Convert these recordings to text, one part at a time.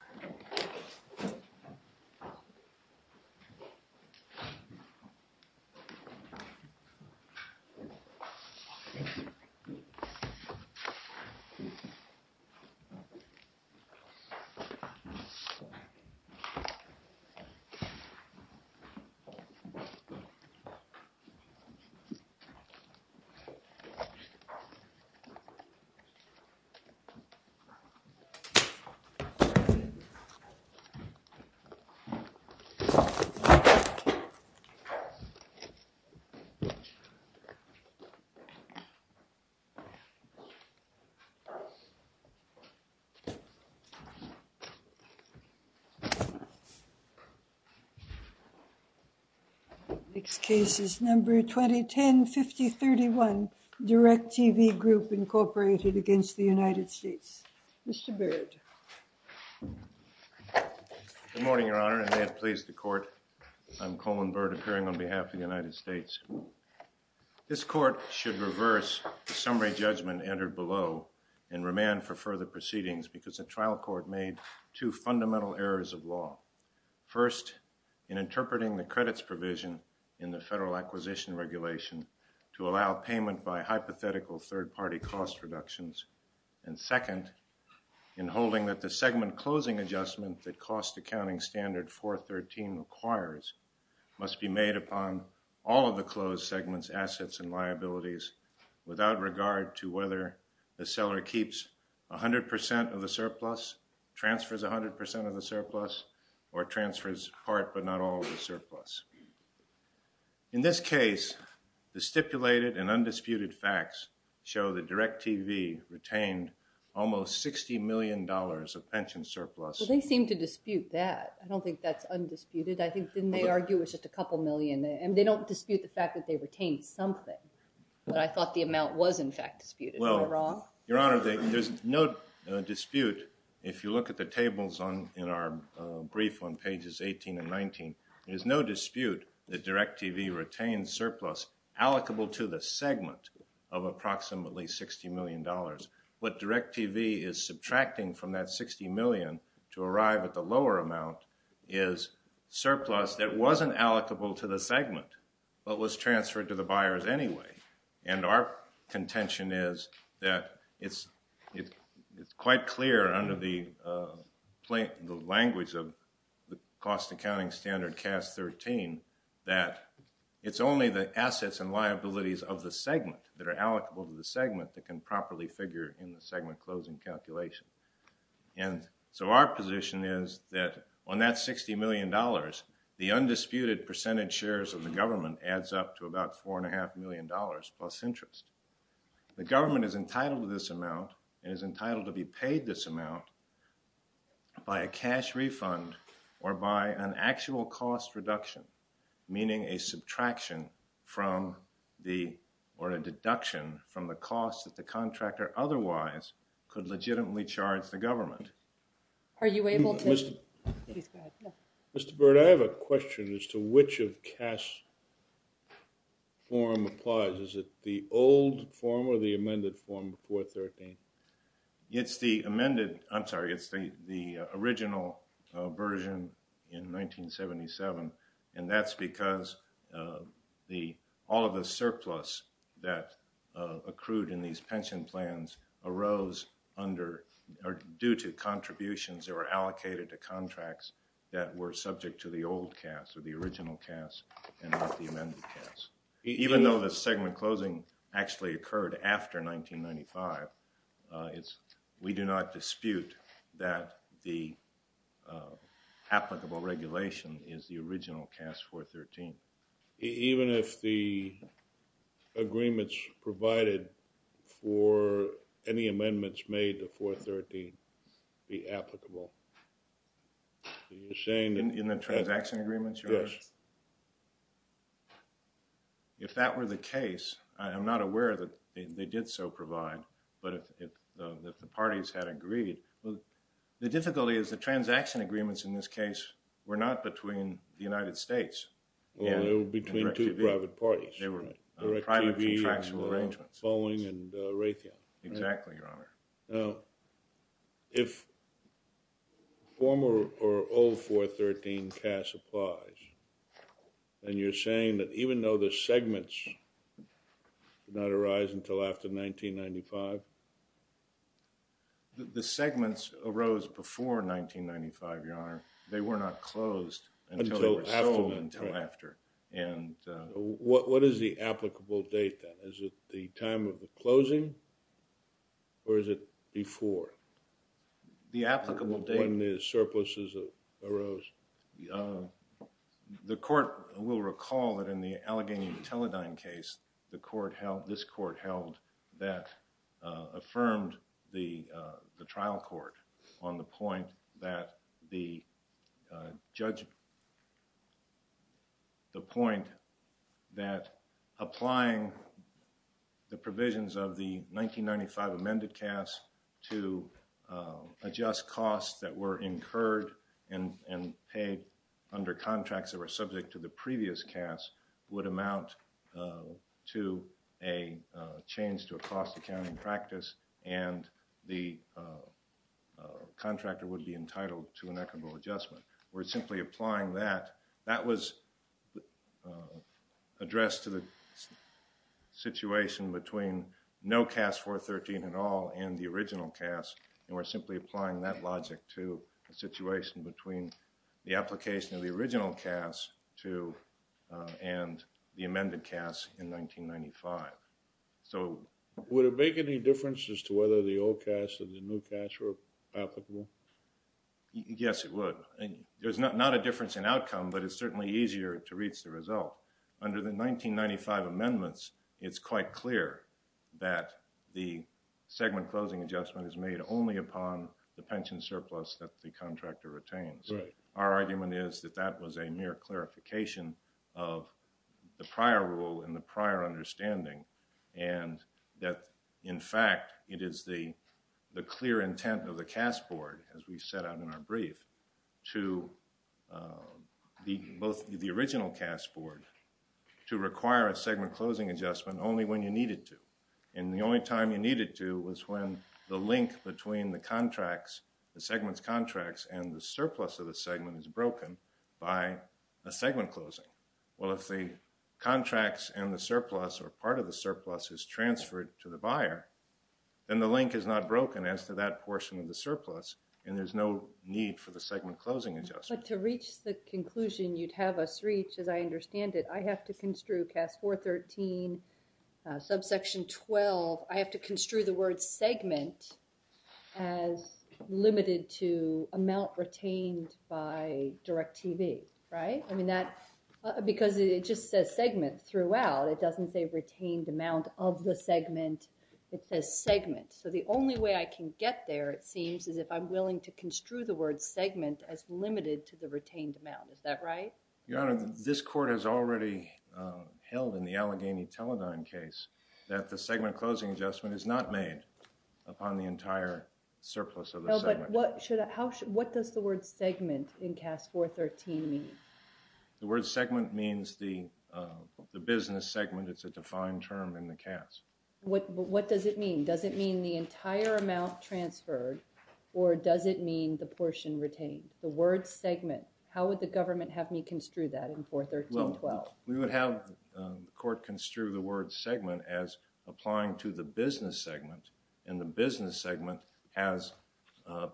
Thank you very much. Next case is number 2010-5031, Direct TV Group, Incorporated, against the United States. Mr. Byrd. Good morning, Your Honor, and may it please the Court, I'm Coleman Byrd, appearing on behalf of the United States. This Court should reverse the summary judgment entered below and remand for further proceedings because the trial court made two fundamental errors of law. First, in interpreting the credits provision in the Federal Acquisition Regulation to allow payment by hypothetical third-party cost reductions, and second, in holding that the segment closing adjustment that Cost Accounting Standard 413 requires must be made upon all of the closed segment's assets and liabilities without regard to whether the seller keeps 100 percent of the surplus, transfers 100 percent of the surplus, or transfers part but not all of the surplus. In this case, the stipulated and undisputed facts show that Direct TV retained almost $60 million of pension surplus. Well, they seem to dispute that. I don't think that's undisputed. I think, didn't they argue it was just a couple million? And they don't dispute the fact that they retained something, but I thought the amount was in fact disputed. Am I wrong? Well, Your Honor, there's no dispute. If you look at the tables in our brief on pages 18 and 19, there's no dispute that Direct TV retained surplus allocable to the segment of approximately $60 million. What Direct TV is subtracting from that $60 million to arrive at the lower amount is surplus that wasn't allocable to the segment, but was transferred to the buyers anyway. And our contention is that it's quite clear under the language of the cost accounting standard CAS 13 that it's only the assets and liabilities of the segment that are allocable to the segment that can properly figure in the segment closing calculation. And so our position is that on that $60 million, the undisputed percentage shares of the government adds up to about $4.5 million plus interest. The government is entitled to this amount and is entitled to be paid this amount by a cash refund or by an actual cost reduction, meaning a subtraction from the, or a deduction from the cost that the contractor otherwise could legitimately charge the government. Are you able to? Please go ahead. Mr. Byrd, I have a question as to which of CAS form applies. Is it the old form or the amended form 413? It's the amended, I'm sorry, it's the original version in 1977, and that's because all of the surplus that accrued in these pension plans arose under, or due to contributions that were allocated to contracts that were subject to the old CAS or the original CAS and not the amended CAS. Even though the segment closing actually occurred after 1995, we do not dispute that the applicable regulation is the original CAS 413. Even if the agreements provided for any amendments made to 413 be applicable? Are you saying that... In the transaction agreements? Yes. If that were the case, I am not aware that they did so provide, but if the parties had agreed, the difficulty is the transaction agreements in this case were not between the private parties. They were private contractual arrangements. Boeing and Raytheon. Exactly, Your Honor. Now, if former or old 413 CAS applies, and you're saying that even though the segments did not arise until after 1995? The segments arose before 1995, Your Honor. They were not closed until after. What is the applicable date then? Is it the time of the closing or is it before? The applicable date. When the surpluses arose. The court will recall that in the Allegheny and Teledyne case, the court held, this court on the point that the judge, the point that applying the provisions of the 1995 amended CAS to adjust costs that were incurred and paid under contracts that were subject to contractor would be entitled to an equitable adjustment. We're simply applying that. That was addressed to the situation between no CAS 413 at all and the original CAS, and we're simply applying that logic to a situation between the application of the original CAS to and the amended CAS in 1995. Would it make any difference as to whether the old CAS or the new CAS were applicable? Yes, it would. There's not a difference in outcome, but it's certainly easier to reach the result. Under the 1995 amendments, it's quite clear that the segment closing adjustment is made only upon the pension surplus that the contractor retains. Our argument is that that was a mere clarification of the prior rule and the prior understanding and that, in fact, it is the clear intent of the CAS board, as we set out in our brief, to both the original CAS board to require a segment closing adjustment only when you needed to, and the only time you needed to was when the link between the contracts, the surplus of the segment, is broken by a segment closing. Well, if the contracts and the surplus or part of the surplus is transferred to the buyer, then the link is not broken as to that portion of the surplus, and there's no need for the segment closing adjustment. But to reach the conclusion you'd have us reach, as I understand it, I have to construe CAS 413, subsection 12, I have to construe the word segment as limited to amount retained by Direct TV, right? I mean that, because it just says segment throughout. It doesn't say retained amount of the segment. It says segment. So the only way I can get there, it seems, is if I'm willing to construe the word segment as limited to the retained amount. Is that right? Your Honor, this court has already held in the Allegheny Teledyne case that the segment closing adjustment is not made upon the entire surplus of the segment. What does the word segment in CAS 413 mean? The word segment means the business segment. It's a defined term in the CAS. What does it mean? Does it mean the entire amount transferred, or does it mean the portion retained? The word segment. How would the government have me construe that in 413-12? Well, we would have the court construe the word segment as applying to the business segment. And the business segment has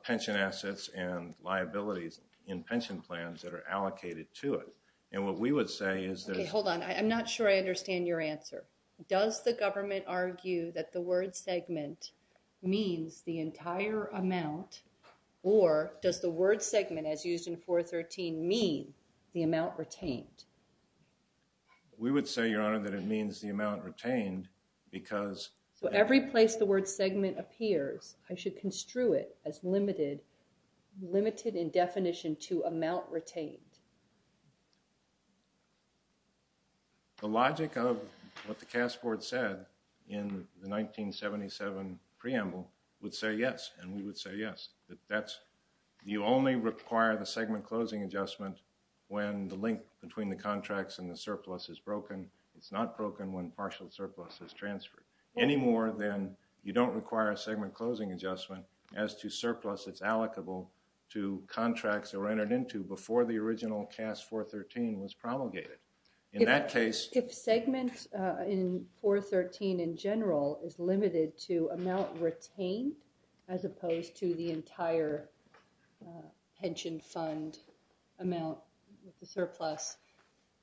pension assets and liabilities in pension plans that are allocated to it. And what we would say is there's... Okay, hold on. I'm not sure I understand your answer. Does the government argue that the word segment means the entire amount, or does the word segment, as used in 413, mean the amount retained? We would say, Your Honor, that it means the amount retained because... So every place the word segment appears, I should construe it as limited in definition to amount retained. The logic of what the CAS Board said in the 1977 preamble would say yes, and we would say yes. You only require the segment closing adjustment when the link between the contracts and the surplus is broken. It's not broken when partial surplus is transferred. Any more than you don't require a segment closing adjustment as to surplus that's allocable to contracts that were entered into before the original CAS 413 was promulgated. In that case... If the segment in 413 in general is limited to amount retained as opposed to the entire pension fund amount, the surplus,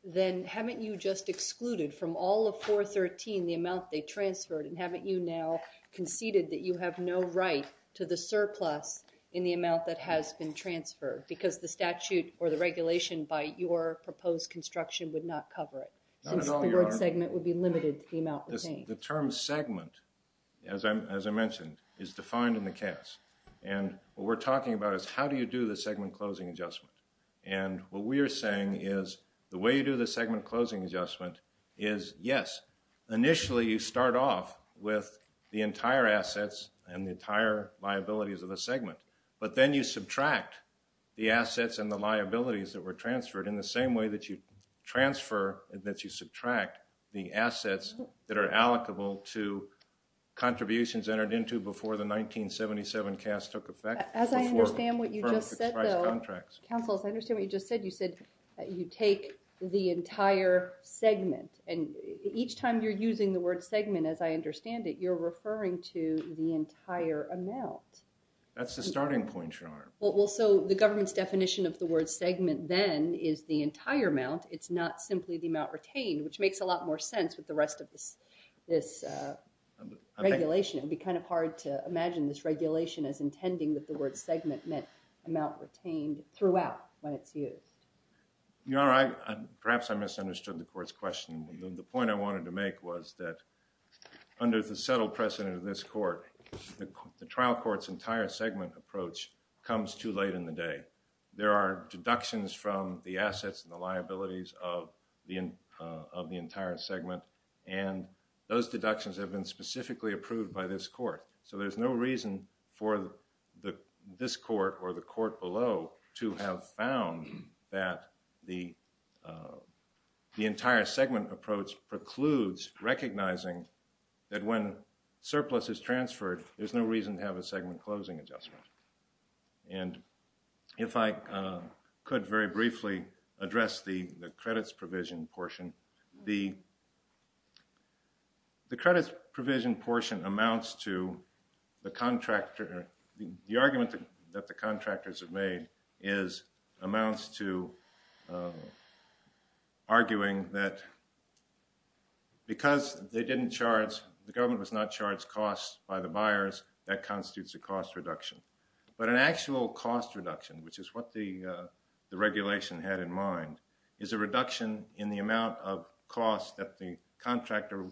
then haven't you just excluded from all of 413 the amount they transferred, and haven't you now conceded that you have no right to the surplus in the amount that has been transferred because the statute or the regulation by your proposed construction would not cover it? Since the word segment would be limited to amount retained. The term segment, as I mentioned, is defined in the CAS. And what we're talking about is how do you do the segment closing adjustment? And what we are saying is the way you do the segment closing adjustment is yes, initially you start off with the entire assets and the entire liabilities of the segment, but then you subtract the assets and the liabilities that were transferred in the same way that you transfer and that you subtract the assets that are allocable to contributions entered into before the 1977 CAS took effect. As I understand what you just said, though... Contracts. Counsel, as I understand what you just said, you said you take the entire segment. And each time you're using the word segment, as I understand it, you're referring to the entire amount. That's the starting point, Your Honor. Well, so the government's definition of the word segment then is the entire amount. It's not simply the amount retained, which makes a lot more sense with the rest of this regulation. It would be kind of hard to imagine this regulation as intending that the word segment meant amount retained throughout when it's used. Your Honor, perhaps I misunderstood the court's question. The point I wanted to make was that under the settled precedent of this court, the trial court's entire segment approach comes too late in the day. There are deductions from the assets and the liabilities of the entire segment, and those deductions have been specifically approved by this court. So there's no reason for this court or the court below to have found that the entire segment approach precludes recognizing that when surplus is transferred, there's no reason to have a segment closing adjustment. And if I could very briefly address the credits provision portion, the credits provision portion amounts to the argument that the contractors have made amounts to arguing that because the government was not charged costs by the buyers, that constitutes a cost reduction. But an actual cost reduction, which is what the regulation had in mind, is a reduction in the amount of cost that the contractor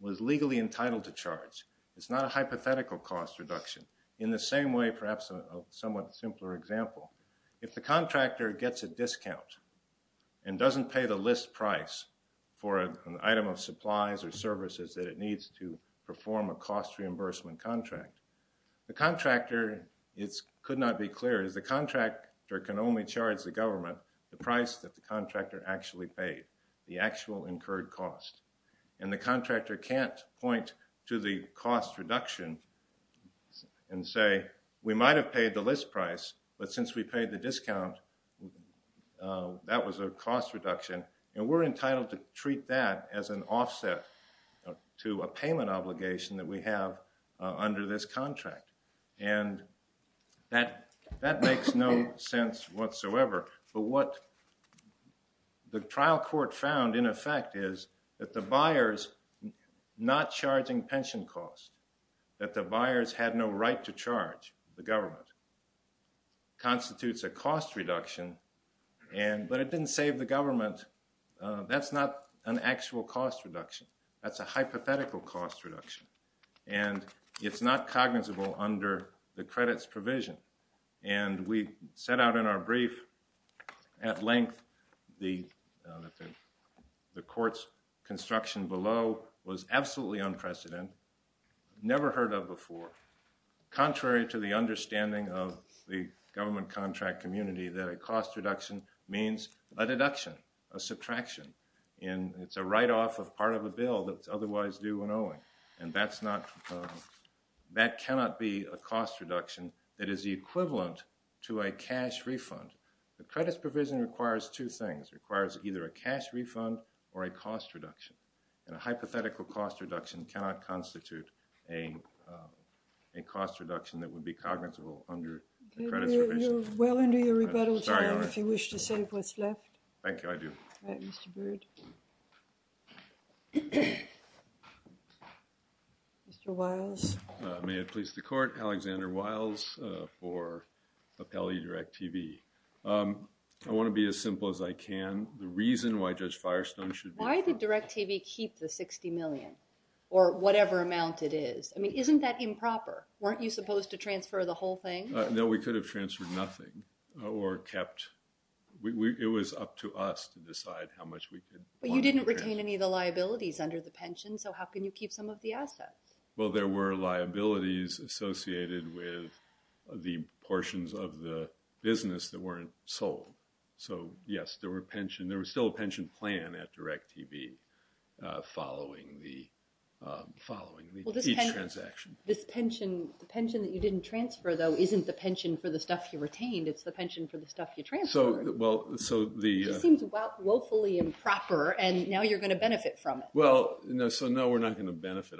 was legally entitled to charge. It's not a hypothetical cost reduction. In the same way, perhaps a somewhat simpler example, if the contractor gets a discount and doesn't pay the list price for an item of supplies or services that it needs to perform a cost reimbursement contract, the contractor, it could not be clearer, the contractor can only charge the government the price that the contractor actually paid, the actual incurred cost. And the contractor can't point to the cost reduction and say, we might have paid the cost reduction, and we're entitled to treat that as an offset to a payment obligation that we have under this contract. And that makes no sense whatsoever. But what the trial court found, in effect, is that the buyers not charging pension costs, that the buyers had no right to charge the government, constitutes a cost reduction, but it didn't save the government. That's not an actual cost reduction. That's a hypothetical cost reduction. And it's not cognizable under the credits provision. And we set out in our brief at length that the court's construction below was absolutely unprecedented, never heard of before, contrary to the understanding of the government contract community that a cost reduction means a deduction, a subtraction, and it's a write-off of part of a bill that's otherwise due when owing. And that's not, that cannot be a cost reduction. It is the equivalent to a cash refund. The credits provision requires two things, requires either a cash refund or a cost reduction. And a hypothetical cost reduction cannot constitute a cost reduction that would be cognizable under the credits provision. You're well into your rebuttal time if you wish to say what's left. Thank you, I do. All right, Mr. Byrd. Mr. Wiles. May it please the court, Alexander Wiles for Appellee Direct TV. I want to be as simple as I can. The reason why Judge Firestone should... Why did Direct TV keep the $60 million or whatever amount it is? I mean, isn't that improper? Weren't you supposed to transfer the whole thing? No, we could have transferred nothing or kept... It was up to us to decide how much we could... But you didn't retain any of the liabilities under the pension, so how can you keep some of the assets? Well, there were liabilities associated with the portions of the business that weren't sold. So, yes, there were pension... There was still a pension plan at Direct TV following each transaction. Well, this pension... The pension that you didn't transfer, though, isn't the pension for the stuff you retained. It's the pension for the stuff you transferred. Well, so the... This seems woefully improper, and now you're going to benefit from it. Well, so no, we're not going to benefit.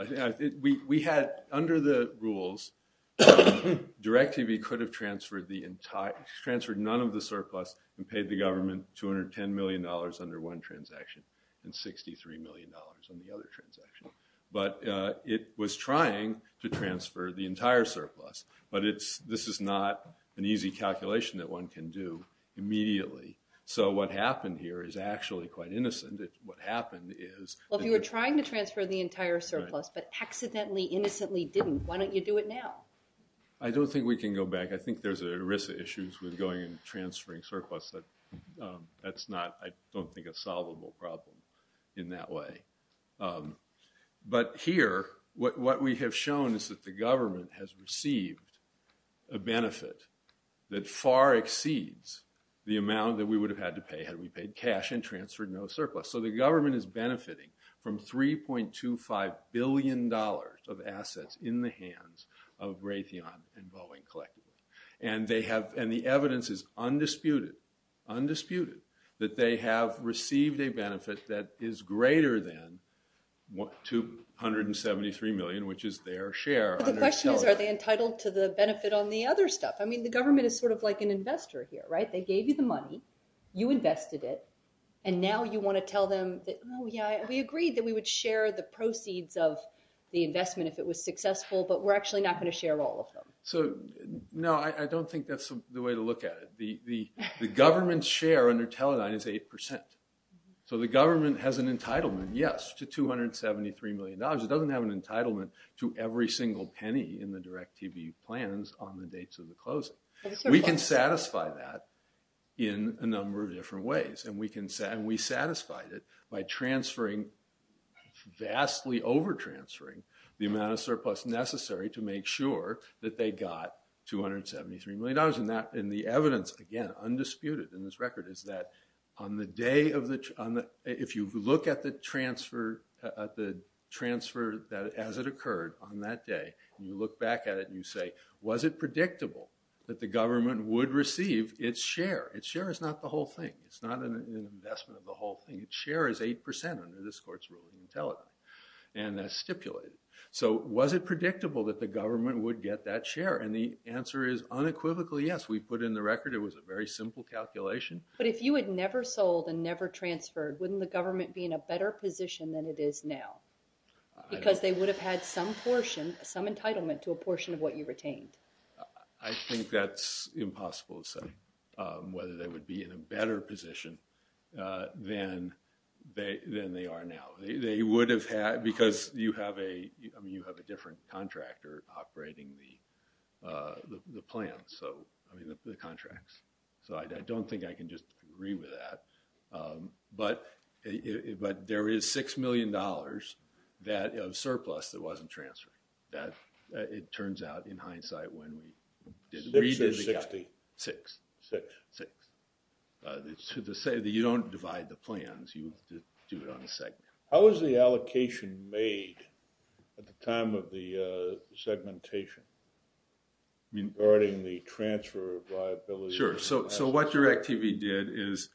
We had, under the rules, Direct TV could have transferred the entire... and paid the government $210 million under one transaction and $63 million on the other transaction. But it was trying to transfer the entire surplus, but this is not an easy calculation that one can do immediately. So what happened here is actually quite innocent. What happened is... Well, if you were trying to transfer the entire surplus but accidentally, innocently didn't, why don't you do it now? I don't think we can go back. I think there's ERISA issues with going and transferring surplus, but that's not, I don't think, a solvable problem in that way. But here, what we have shown is that the government has received a benefit that far exceeds the amount that we would have had to pay had we paid cash and transferred no surplus. So the government is benefiting from $3.25 billion of assets in the hands of Raytheon and Boeing collectively. And the evidence is undisputed, undisputed, that they have received a benefit that is greater than $273 million, which is their share. But the question is, are they entitled to the benefit on the other stuff? I mean, the government is sort of like an investor here, right? They gave you the money, you invested it, and now you want to tell them that, Oh, yeah, we agreed that we would share the proceeds of the investment if it was successful, but we're actually not going to share all of them. So, no, I don't think that's the way to look at it. The government's share under Teledyne is 8%. So the government has an entitlement, yes, to $273 million. It doesn't have an entitlement to every single penny in the direct TV plans on the dates of the closing. We can satisfy that in a number of different ways, and we satisfied it by transferring, vastly over-transferring, the amount of surplus necessary to make sure that they got $273 million. And the evidence, again, undisputed in this record, is that if you look at the transfer as it occurred on that day, and you look back at it and you say, Was it predictable that the government would receive its share? Its share is not the whole thing. It's not an investment of the whole thing. Its share is 8% under this court's rule in Teledyne, and that's stipulated. So was it predictable that the government would get that share? And the answer is unequivocally yes. We put in the record it was a very simple calculation. But if you had never sold and never transferred, wouldn't the government be in a better position than it is now? Because they would have had some portion, some entitlement to a portion of what you retained. I think that's impossible to say, whether they would be in a better position than they are now. They would have had, because you have a different contractor operating the plan, I mean, the contracts. So I don't think I can just agree with that. But there is $6 million of surplus that wasn't transferred. It turns out, in hindsight, when we did read it, we got 6. To say that you don't divide the plans, you do it on a segment. How was the allocation made at the time of the segmentation, regarding the transfer of liabilities? Sure. So what Direct TV did is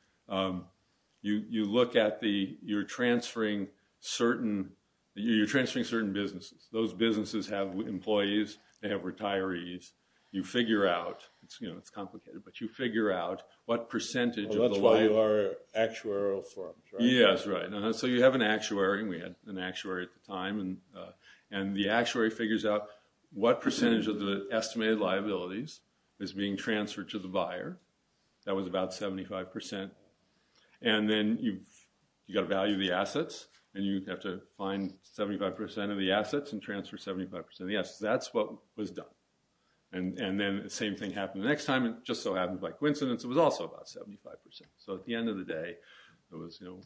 you look at the – you're transferring certain – you're transferring certain businesses. Those businesses have employees, they have retirees. You figure out – it's complicated, but you figure out what percentage of the – That's why you are actuarial firms, right? Yes, right. So you have an actuary, and we had an actuary at the time. And the actuary figures out what percentage of the estimated liabilities is being transferred to the buyer. That was about 75%. And then you've got to value the assets, and you have to find 75% of the assets and transfer 75% of the assets. That's what was done. And then the same thing happened the next time, and it just so happens, by coincidence, it was also about 75%. So at the end of the day, it was, you know,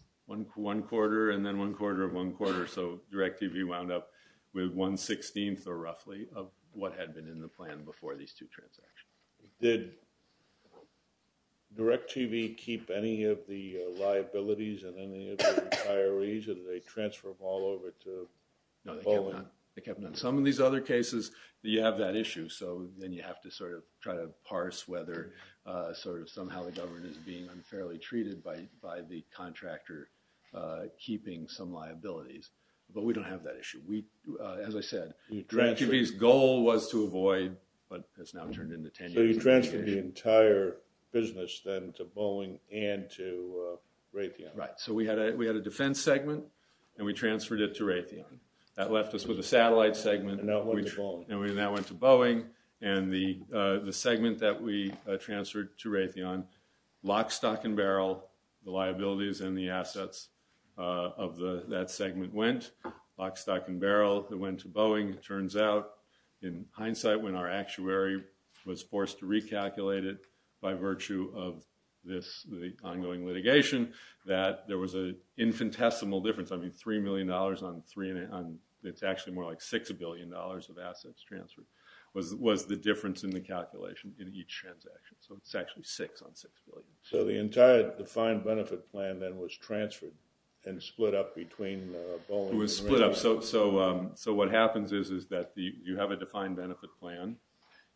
one quarter and then one quarter of one quarter. So Direct TV wound up with one-sixteenth, or roughly, of what had been in the plan before these two transactions. Did Direct TV keep any of the liabilities of any of the retirees, or did they transfer them all over to Poland? No, they kept none. Some of these other cases, you have that issue, so then you have to sort of try to parse whether sort of somehow the government is being unfairly treated by the contractor keeping some liabilities. But we don't have that issue. As I said, Direct TV's goal was to avoid, but has now turned into tenure. So you transferred the entire business then to Boeing and to Raytheon. Right. So we had a defense segment, and we transferred it to Raytheon. That left us with a satellite segment, and that went to Boeing, and the segment that we transferred to Raytheon, lock, stock, and barrel, the liabilities and the assets of that segment went. Lock, stock, and barrel, it went to Boeing. It turns out in hindsight when our actuary was forced to recalculate it by virtue of this ongoing litigation that there was an infinitesimal difference. I mean $3 million on three and it's actually more like $6 billion of assets transferred was the difference in the calculation in each transaction. So it's actually six on $6 billion. So the entire defined benefit plan then was transferred and split up between Boeing and Raytheon. It was split up. So what happens is that you have a defined benefit plan.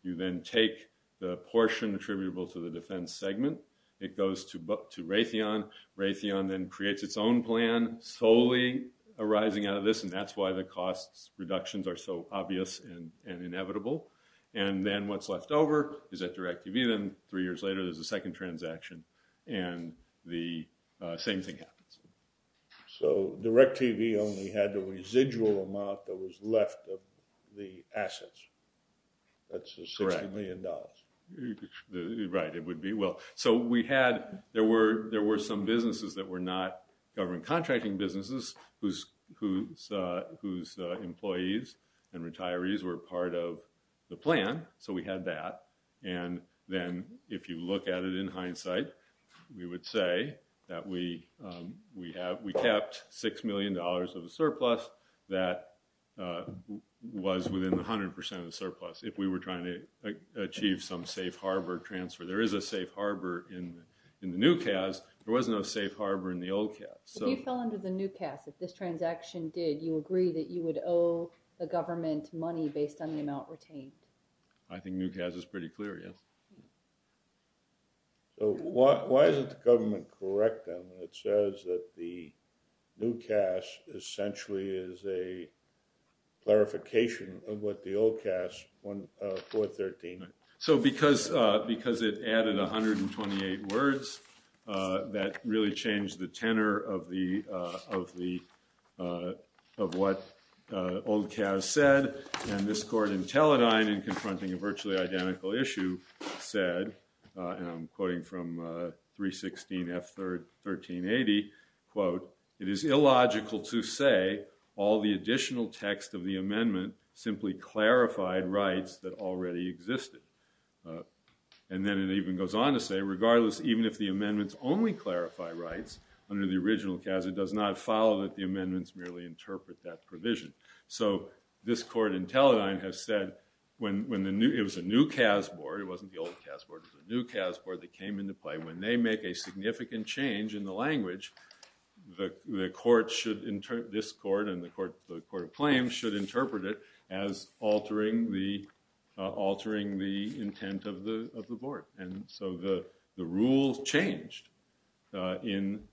You then take the portion attributable to the defense segment. It goes to Raytheon. Raytheon then creates its own plan solely arising out of this, and that's why the costs reductions are so obvious and inevitable. And then what's left over is at DirecTV. Then three years later there's a second transaction, and the same thing happens. So DirecTV only had the residual amount that was left of the assets. That's the $6 million. Right, it would be. Well, so there were some businesses that were not government contracting businesses whose employees and retirees were part of the plan, so we had that. And then if you look at it in hindsight, we would say that we kept $6 million of the surplus that was within 100% of the surplus if we were trying to achieve some safe harbor transfer. There is a safe harbor in the new CAS. There was no safe harbor in the old CAS. If you fell under the new CAS, if this transaction did, you agree that you would owe the government money based on the amount retained? I think new CAS is pretty clear, yes. Why is it the government correct them? It says that the new CAS essentially is a clarification of what the old CAS, 413. So because it added 128 words, that really changed the tenor of what old CAS said, and this court in Teledyne in confronting a virtually identical issue said, and I'm quoting from 316 F. 1380, quote, it is illogical to say all the additional text of the amendment simply clarified rights that already existed. And then it even goes on to say regardless, even if the amendments only clarify rights under the original CAS, it does not follow that the amendments merely interpret that provision. So this court in Teledyne has said it was a new CAS board. It wasn't the old CAS board. It was a new CAS board that came into play. When they make a significant change in the language, this court and the court of claims should interpret it as altering the intent of the board. And so the rules changed when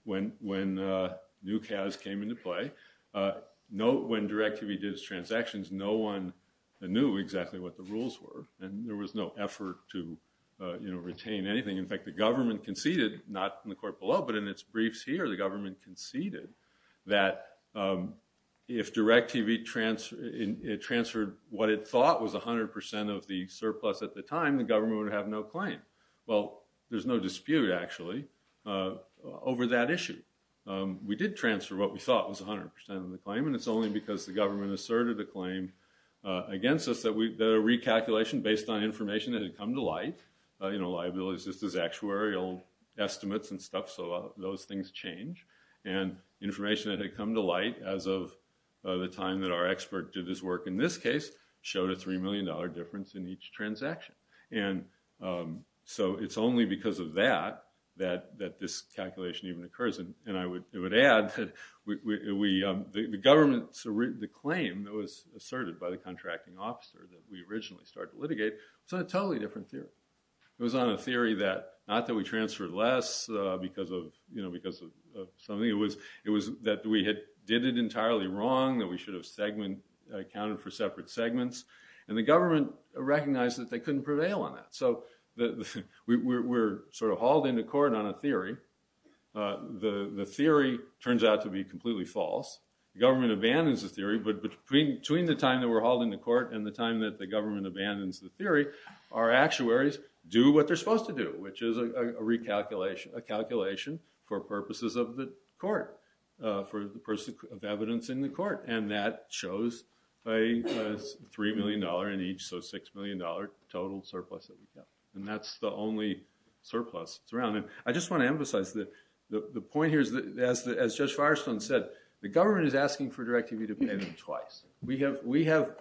new CAS came into play. Note when Direct TV did its transactions, no one knew exactly what the rules were, and there was no effort to retain anything. In fact, the government conceded, not in the court below, but in its briefs here, the government conceded that if Direct TV transferred what it thought was 100% of the surplus at the time, the government would have no claim. Well, there's no dispute, actually, over that issue. We did transfer what we thought was 100% of the claim, and it's only because the government asserted a claim against us, that a recalculation based on information that had come to light, you know, liabilities just as actuarial estimates and stuff, so those things change, and information that had come to light as of the time that our expert did this work in this case, showed a $3 million difference in each transaction. And so it's only because of that that this calculation even occurs, and I would add that the government's claim that was asserted by the contracting officer that we originally started to litigate was on a totally different theory. It was on a theory that not that we transferred less because of something, it was that we did it entirely wrong, that we should have accounted for separate segments, and the government recognized that they couldn't prevail on that. So we're sort of hauled into court on a theory. The theory turns out to be completely false. The government abandons the theory, but between the time that we're hauled into court and the time that the government abandons the theory, our actuaries do what they're supposed to do, which is a recalculation for purposes of the court, for the purpose of evidencing the court, and that shows a $3 million in each, so $6 million total surplus that we've got. And that's the only surplus that's around. And I just want to emphasize that the point here is that, as Judge Firestone said, the government is asking for Directive E to pay them twice. We have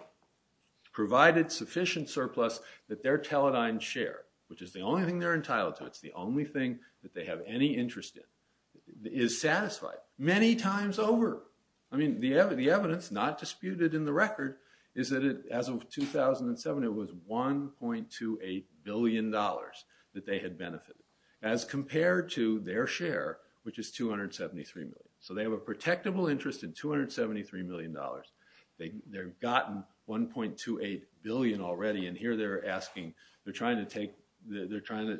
provided sufficient surplus that their teledined share, which is the only thing they're entitled to, it's the only thing that they have any interest in, is satisfied many times over. I mean, the evidence not disputed in the record is that, as of 2007, it was $1.28 billion that they had benefited, as compared to their share, which is $273 million. So they have a protectable interest of $273 million. They've gotten $1.28 billion already, and here they're asking, they're trying to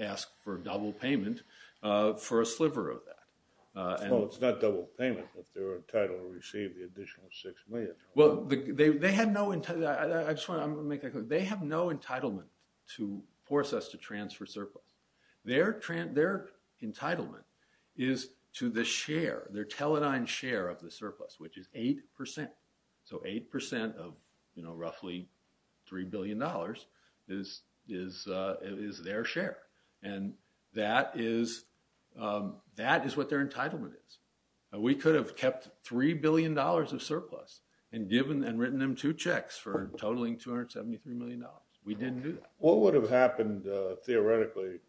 ask for a double payment for a sliver of that. Well, it's not double payment, but they're entitled to receive the additional $6 million. Well, they have no entitlement to force us to transfer surplus. Their entitlement is to the share, their teledined share of the surplus, which is 8%. So 8% of roughly $3 billion is their share. And that is what their entitlement is. We could have kept $3 billion of surplus and written them two checks for totaling $273 million. We didn't do that. What would have happened, theoretically,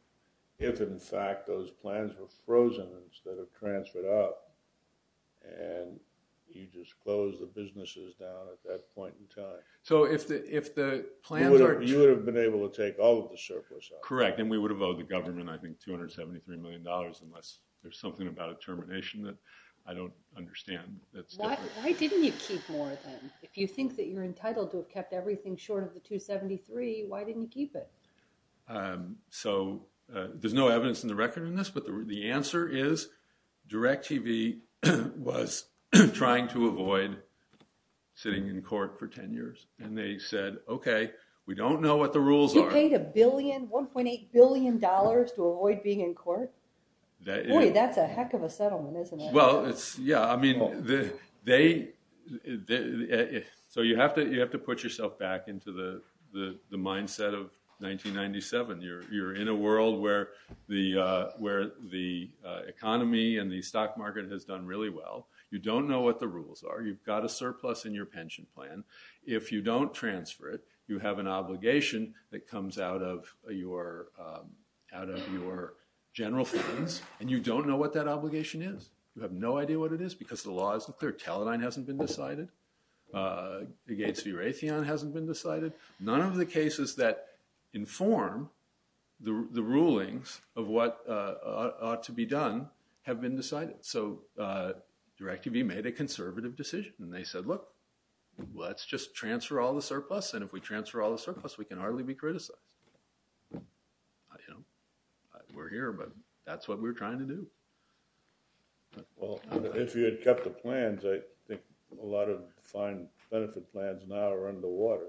if, in fact, those plans were frozen instead of transferred up, and you just closed the businesses down at that point in time? So if the plans are— You would have been able to take all of the surplus out. Correct, and we would have owed the government, I think, $273 million, unless there's something about a termination that I don't understand. Why didn't you keep more, then? If you think that you're entitled to have kept everything short of the $273 million, why didn't you keep it? So there's no evidence in the record on this, but the answer is DirecTV was trying to avoid sitting in court for 10 years. And they said, okay, we don't know what the rules are. You paid $1.8 billion to avoid being in court? Boy, that's a heck of a settlement, isn't it? Yeah, I mean, they— So you have to put yourself back into the mindset of 1997. You're in a world where the economy and the stock market has done really well. You don't know what the rules are. You've got a surplus in your pension plan. If you don't transfer it, you have an obligation that comes out of your general funds, and you don't know what that obligation is. You have no idea what it is because the law isn't clear. Teledyne hasn't been decided. Gates v. Raytheon hasn't been decided. None of the cases that inform the rulings of what ought to be done have been decided. So DirecTV made a conservative decision. And they said, look, let's just transfer all the surplus, and if we transfer all the surplus, we can hardly be criticized. We're here, but that's what we're trying to do. Well, if you had kept the plans, I think a lot of fine benefit plans now are under water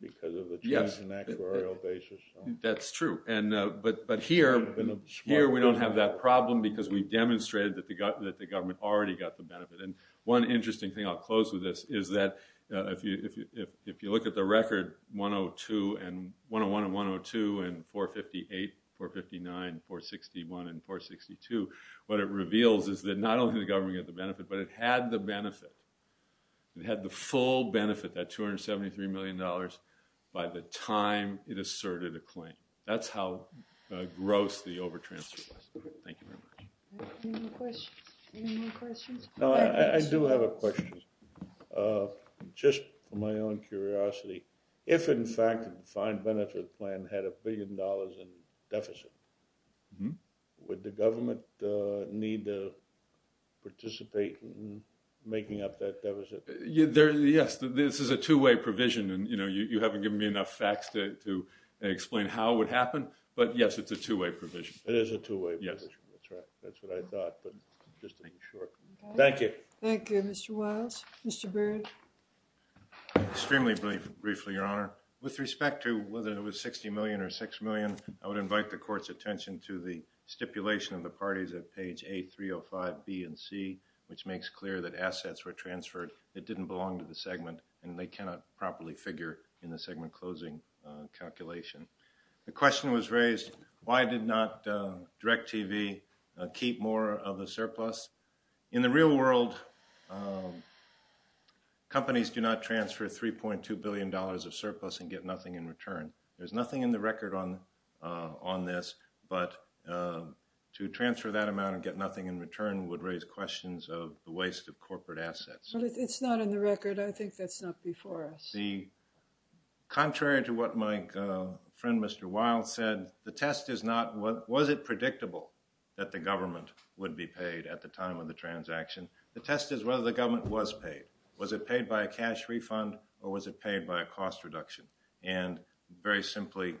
because of the change in actuarial basis. That's true. But here we don't have that problem because we've demonstrated that the government already got the benefit. And one interesting thing, I'll close with this, is that if you look at the record, 101 and 102 and 458, 459, 461, and 462, what it reveals is that not only did the government get the benefit, but it had the benefit. It had the full benefit, that $273 million, by the time it asserted a claim. That's how gross the over-transfer was. Thank you very much. Any more questions? I do have a question. Just for my own curiosity, if, in fact, the fine benefit plan had a billion dollars in deficit, would the government need to participate in making up that deficit? Yes, this is a two-way provision, and you haven't given me enough facts to explain how it would happen. But, yes, it's a two-way provision. It is a two-way provision. That's right. That's what I thought, but just to make sure. Thank you. Thank you. Mr. Wiles? Mr. Byrd? Extremely briefly, Your Honor. With respect to whether it was $60 million or $6 million, I would invite the Court's attention to the stipulation of the parties at page A, 305B, and C, which makes clear that assets were transferred that didn't belong to the segment, and they cannot properly figure in the segment-closing calculation. The question was raised, why did not DirecTV keep more of the surplus? In the real world, companies do not transfer $3.2 billion of surplus and get nothing in return. There's nothing in the record on this, but to transfer that amount and get nothing in return would raise questions of the waste of corporate assets. But it's not in the record. I think that's not before us. Contrary to what my friend, Mr. Wiles, said, the test is not was it predictable that the government would be paid at the time of the transaction. The test is whether the government was paid. Was it paid by a cash refund or was it paid by a cost reduction? And very simply,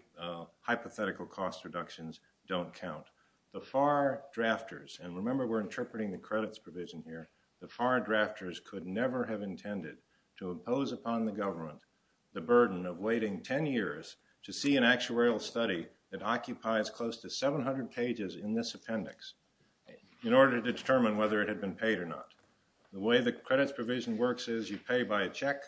hypothetical cost reductions don't count. The FAR drafters, and remember we're interpreting the credits provision here, the FAR drafters could never have intended to impose upon the government the burden of waiting 10 years to see an actuarial study that occupies close to 700 pages in this appendix in order to determine whether it had been paid or not. The way the credits provision works is you pay by a check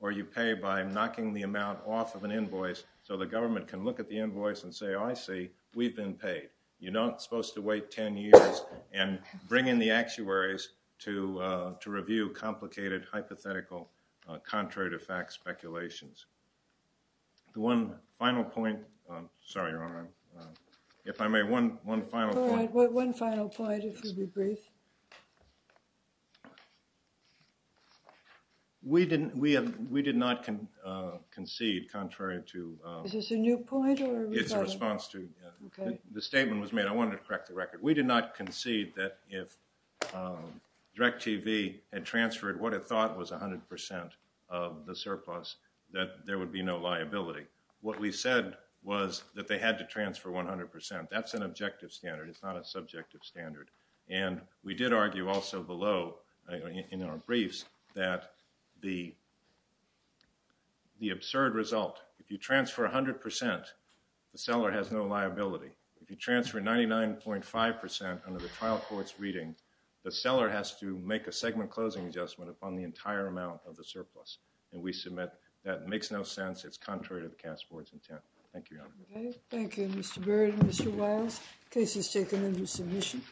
or you pay by knocking the amount off of an invoice so the government can look at the invoice and say, oh, I see, we've been paid. You're not supposed to wait 10 years and bring in the actuaries to review complicated hypothetical contrary to fact speculations. The one final point, sorry, Your Honor, if I may, one final point. All right, one final point, if you'll be brief. We did not concede contrary to – Is this a new point or – It's a response to – the statement was made. I wanted to correct the record. We did not concede that if DIRECTV had transferred what it thought was 100% of the surplus, that there would be no liability. What we said was that they had to transfer 100%. That's an objective standard. It's not a subjective standard. And we did argue also below in our briefs that the absurd result, if you transfer 100%, the seller has no liability. If you transfer 99.5% under the trial court's reading, the seller has to make a segment closing adjustment upon the entire amount of the surplus. And we submit that makes no sense. It's contrary to the cast board's intent. Thank you, Your Honor. Thank you, Mr. Baird and Mr. Wiles. The case is taken into submission.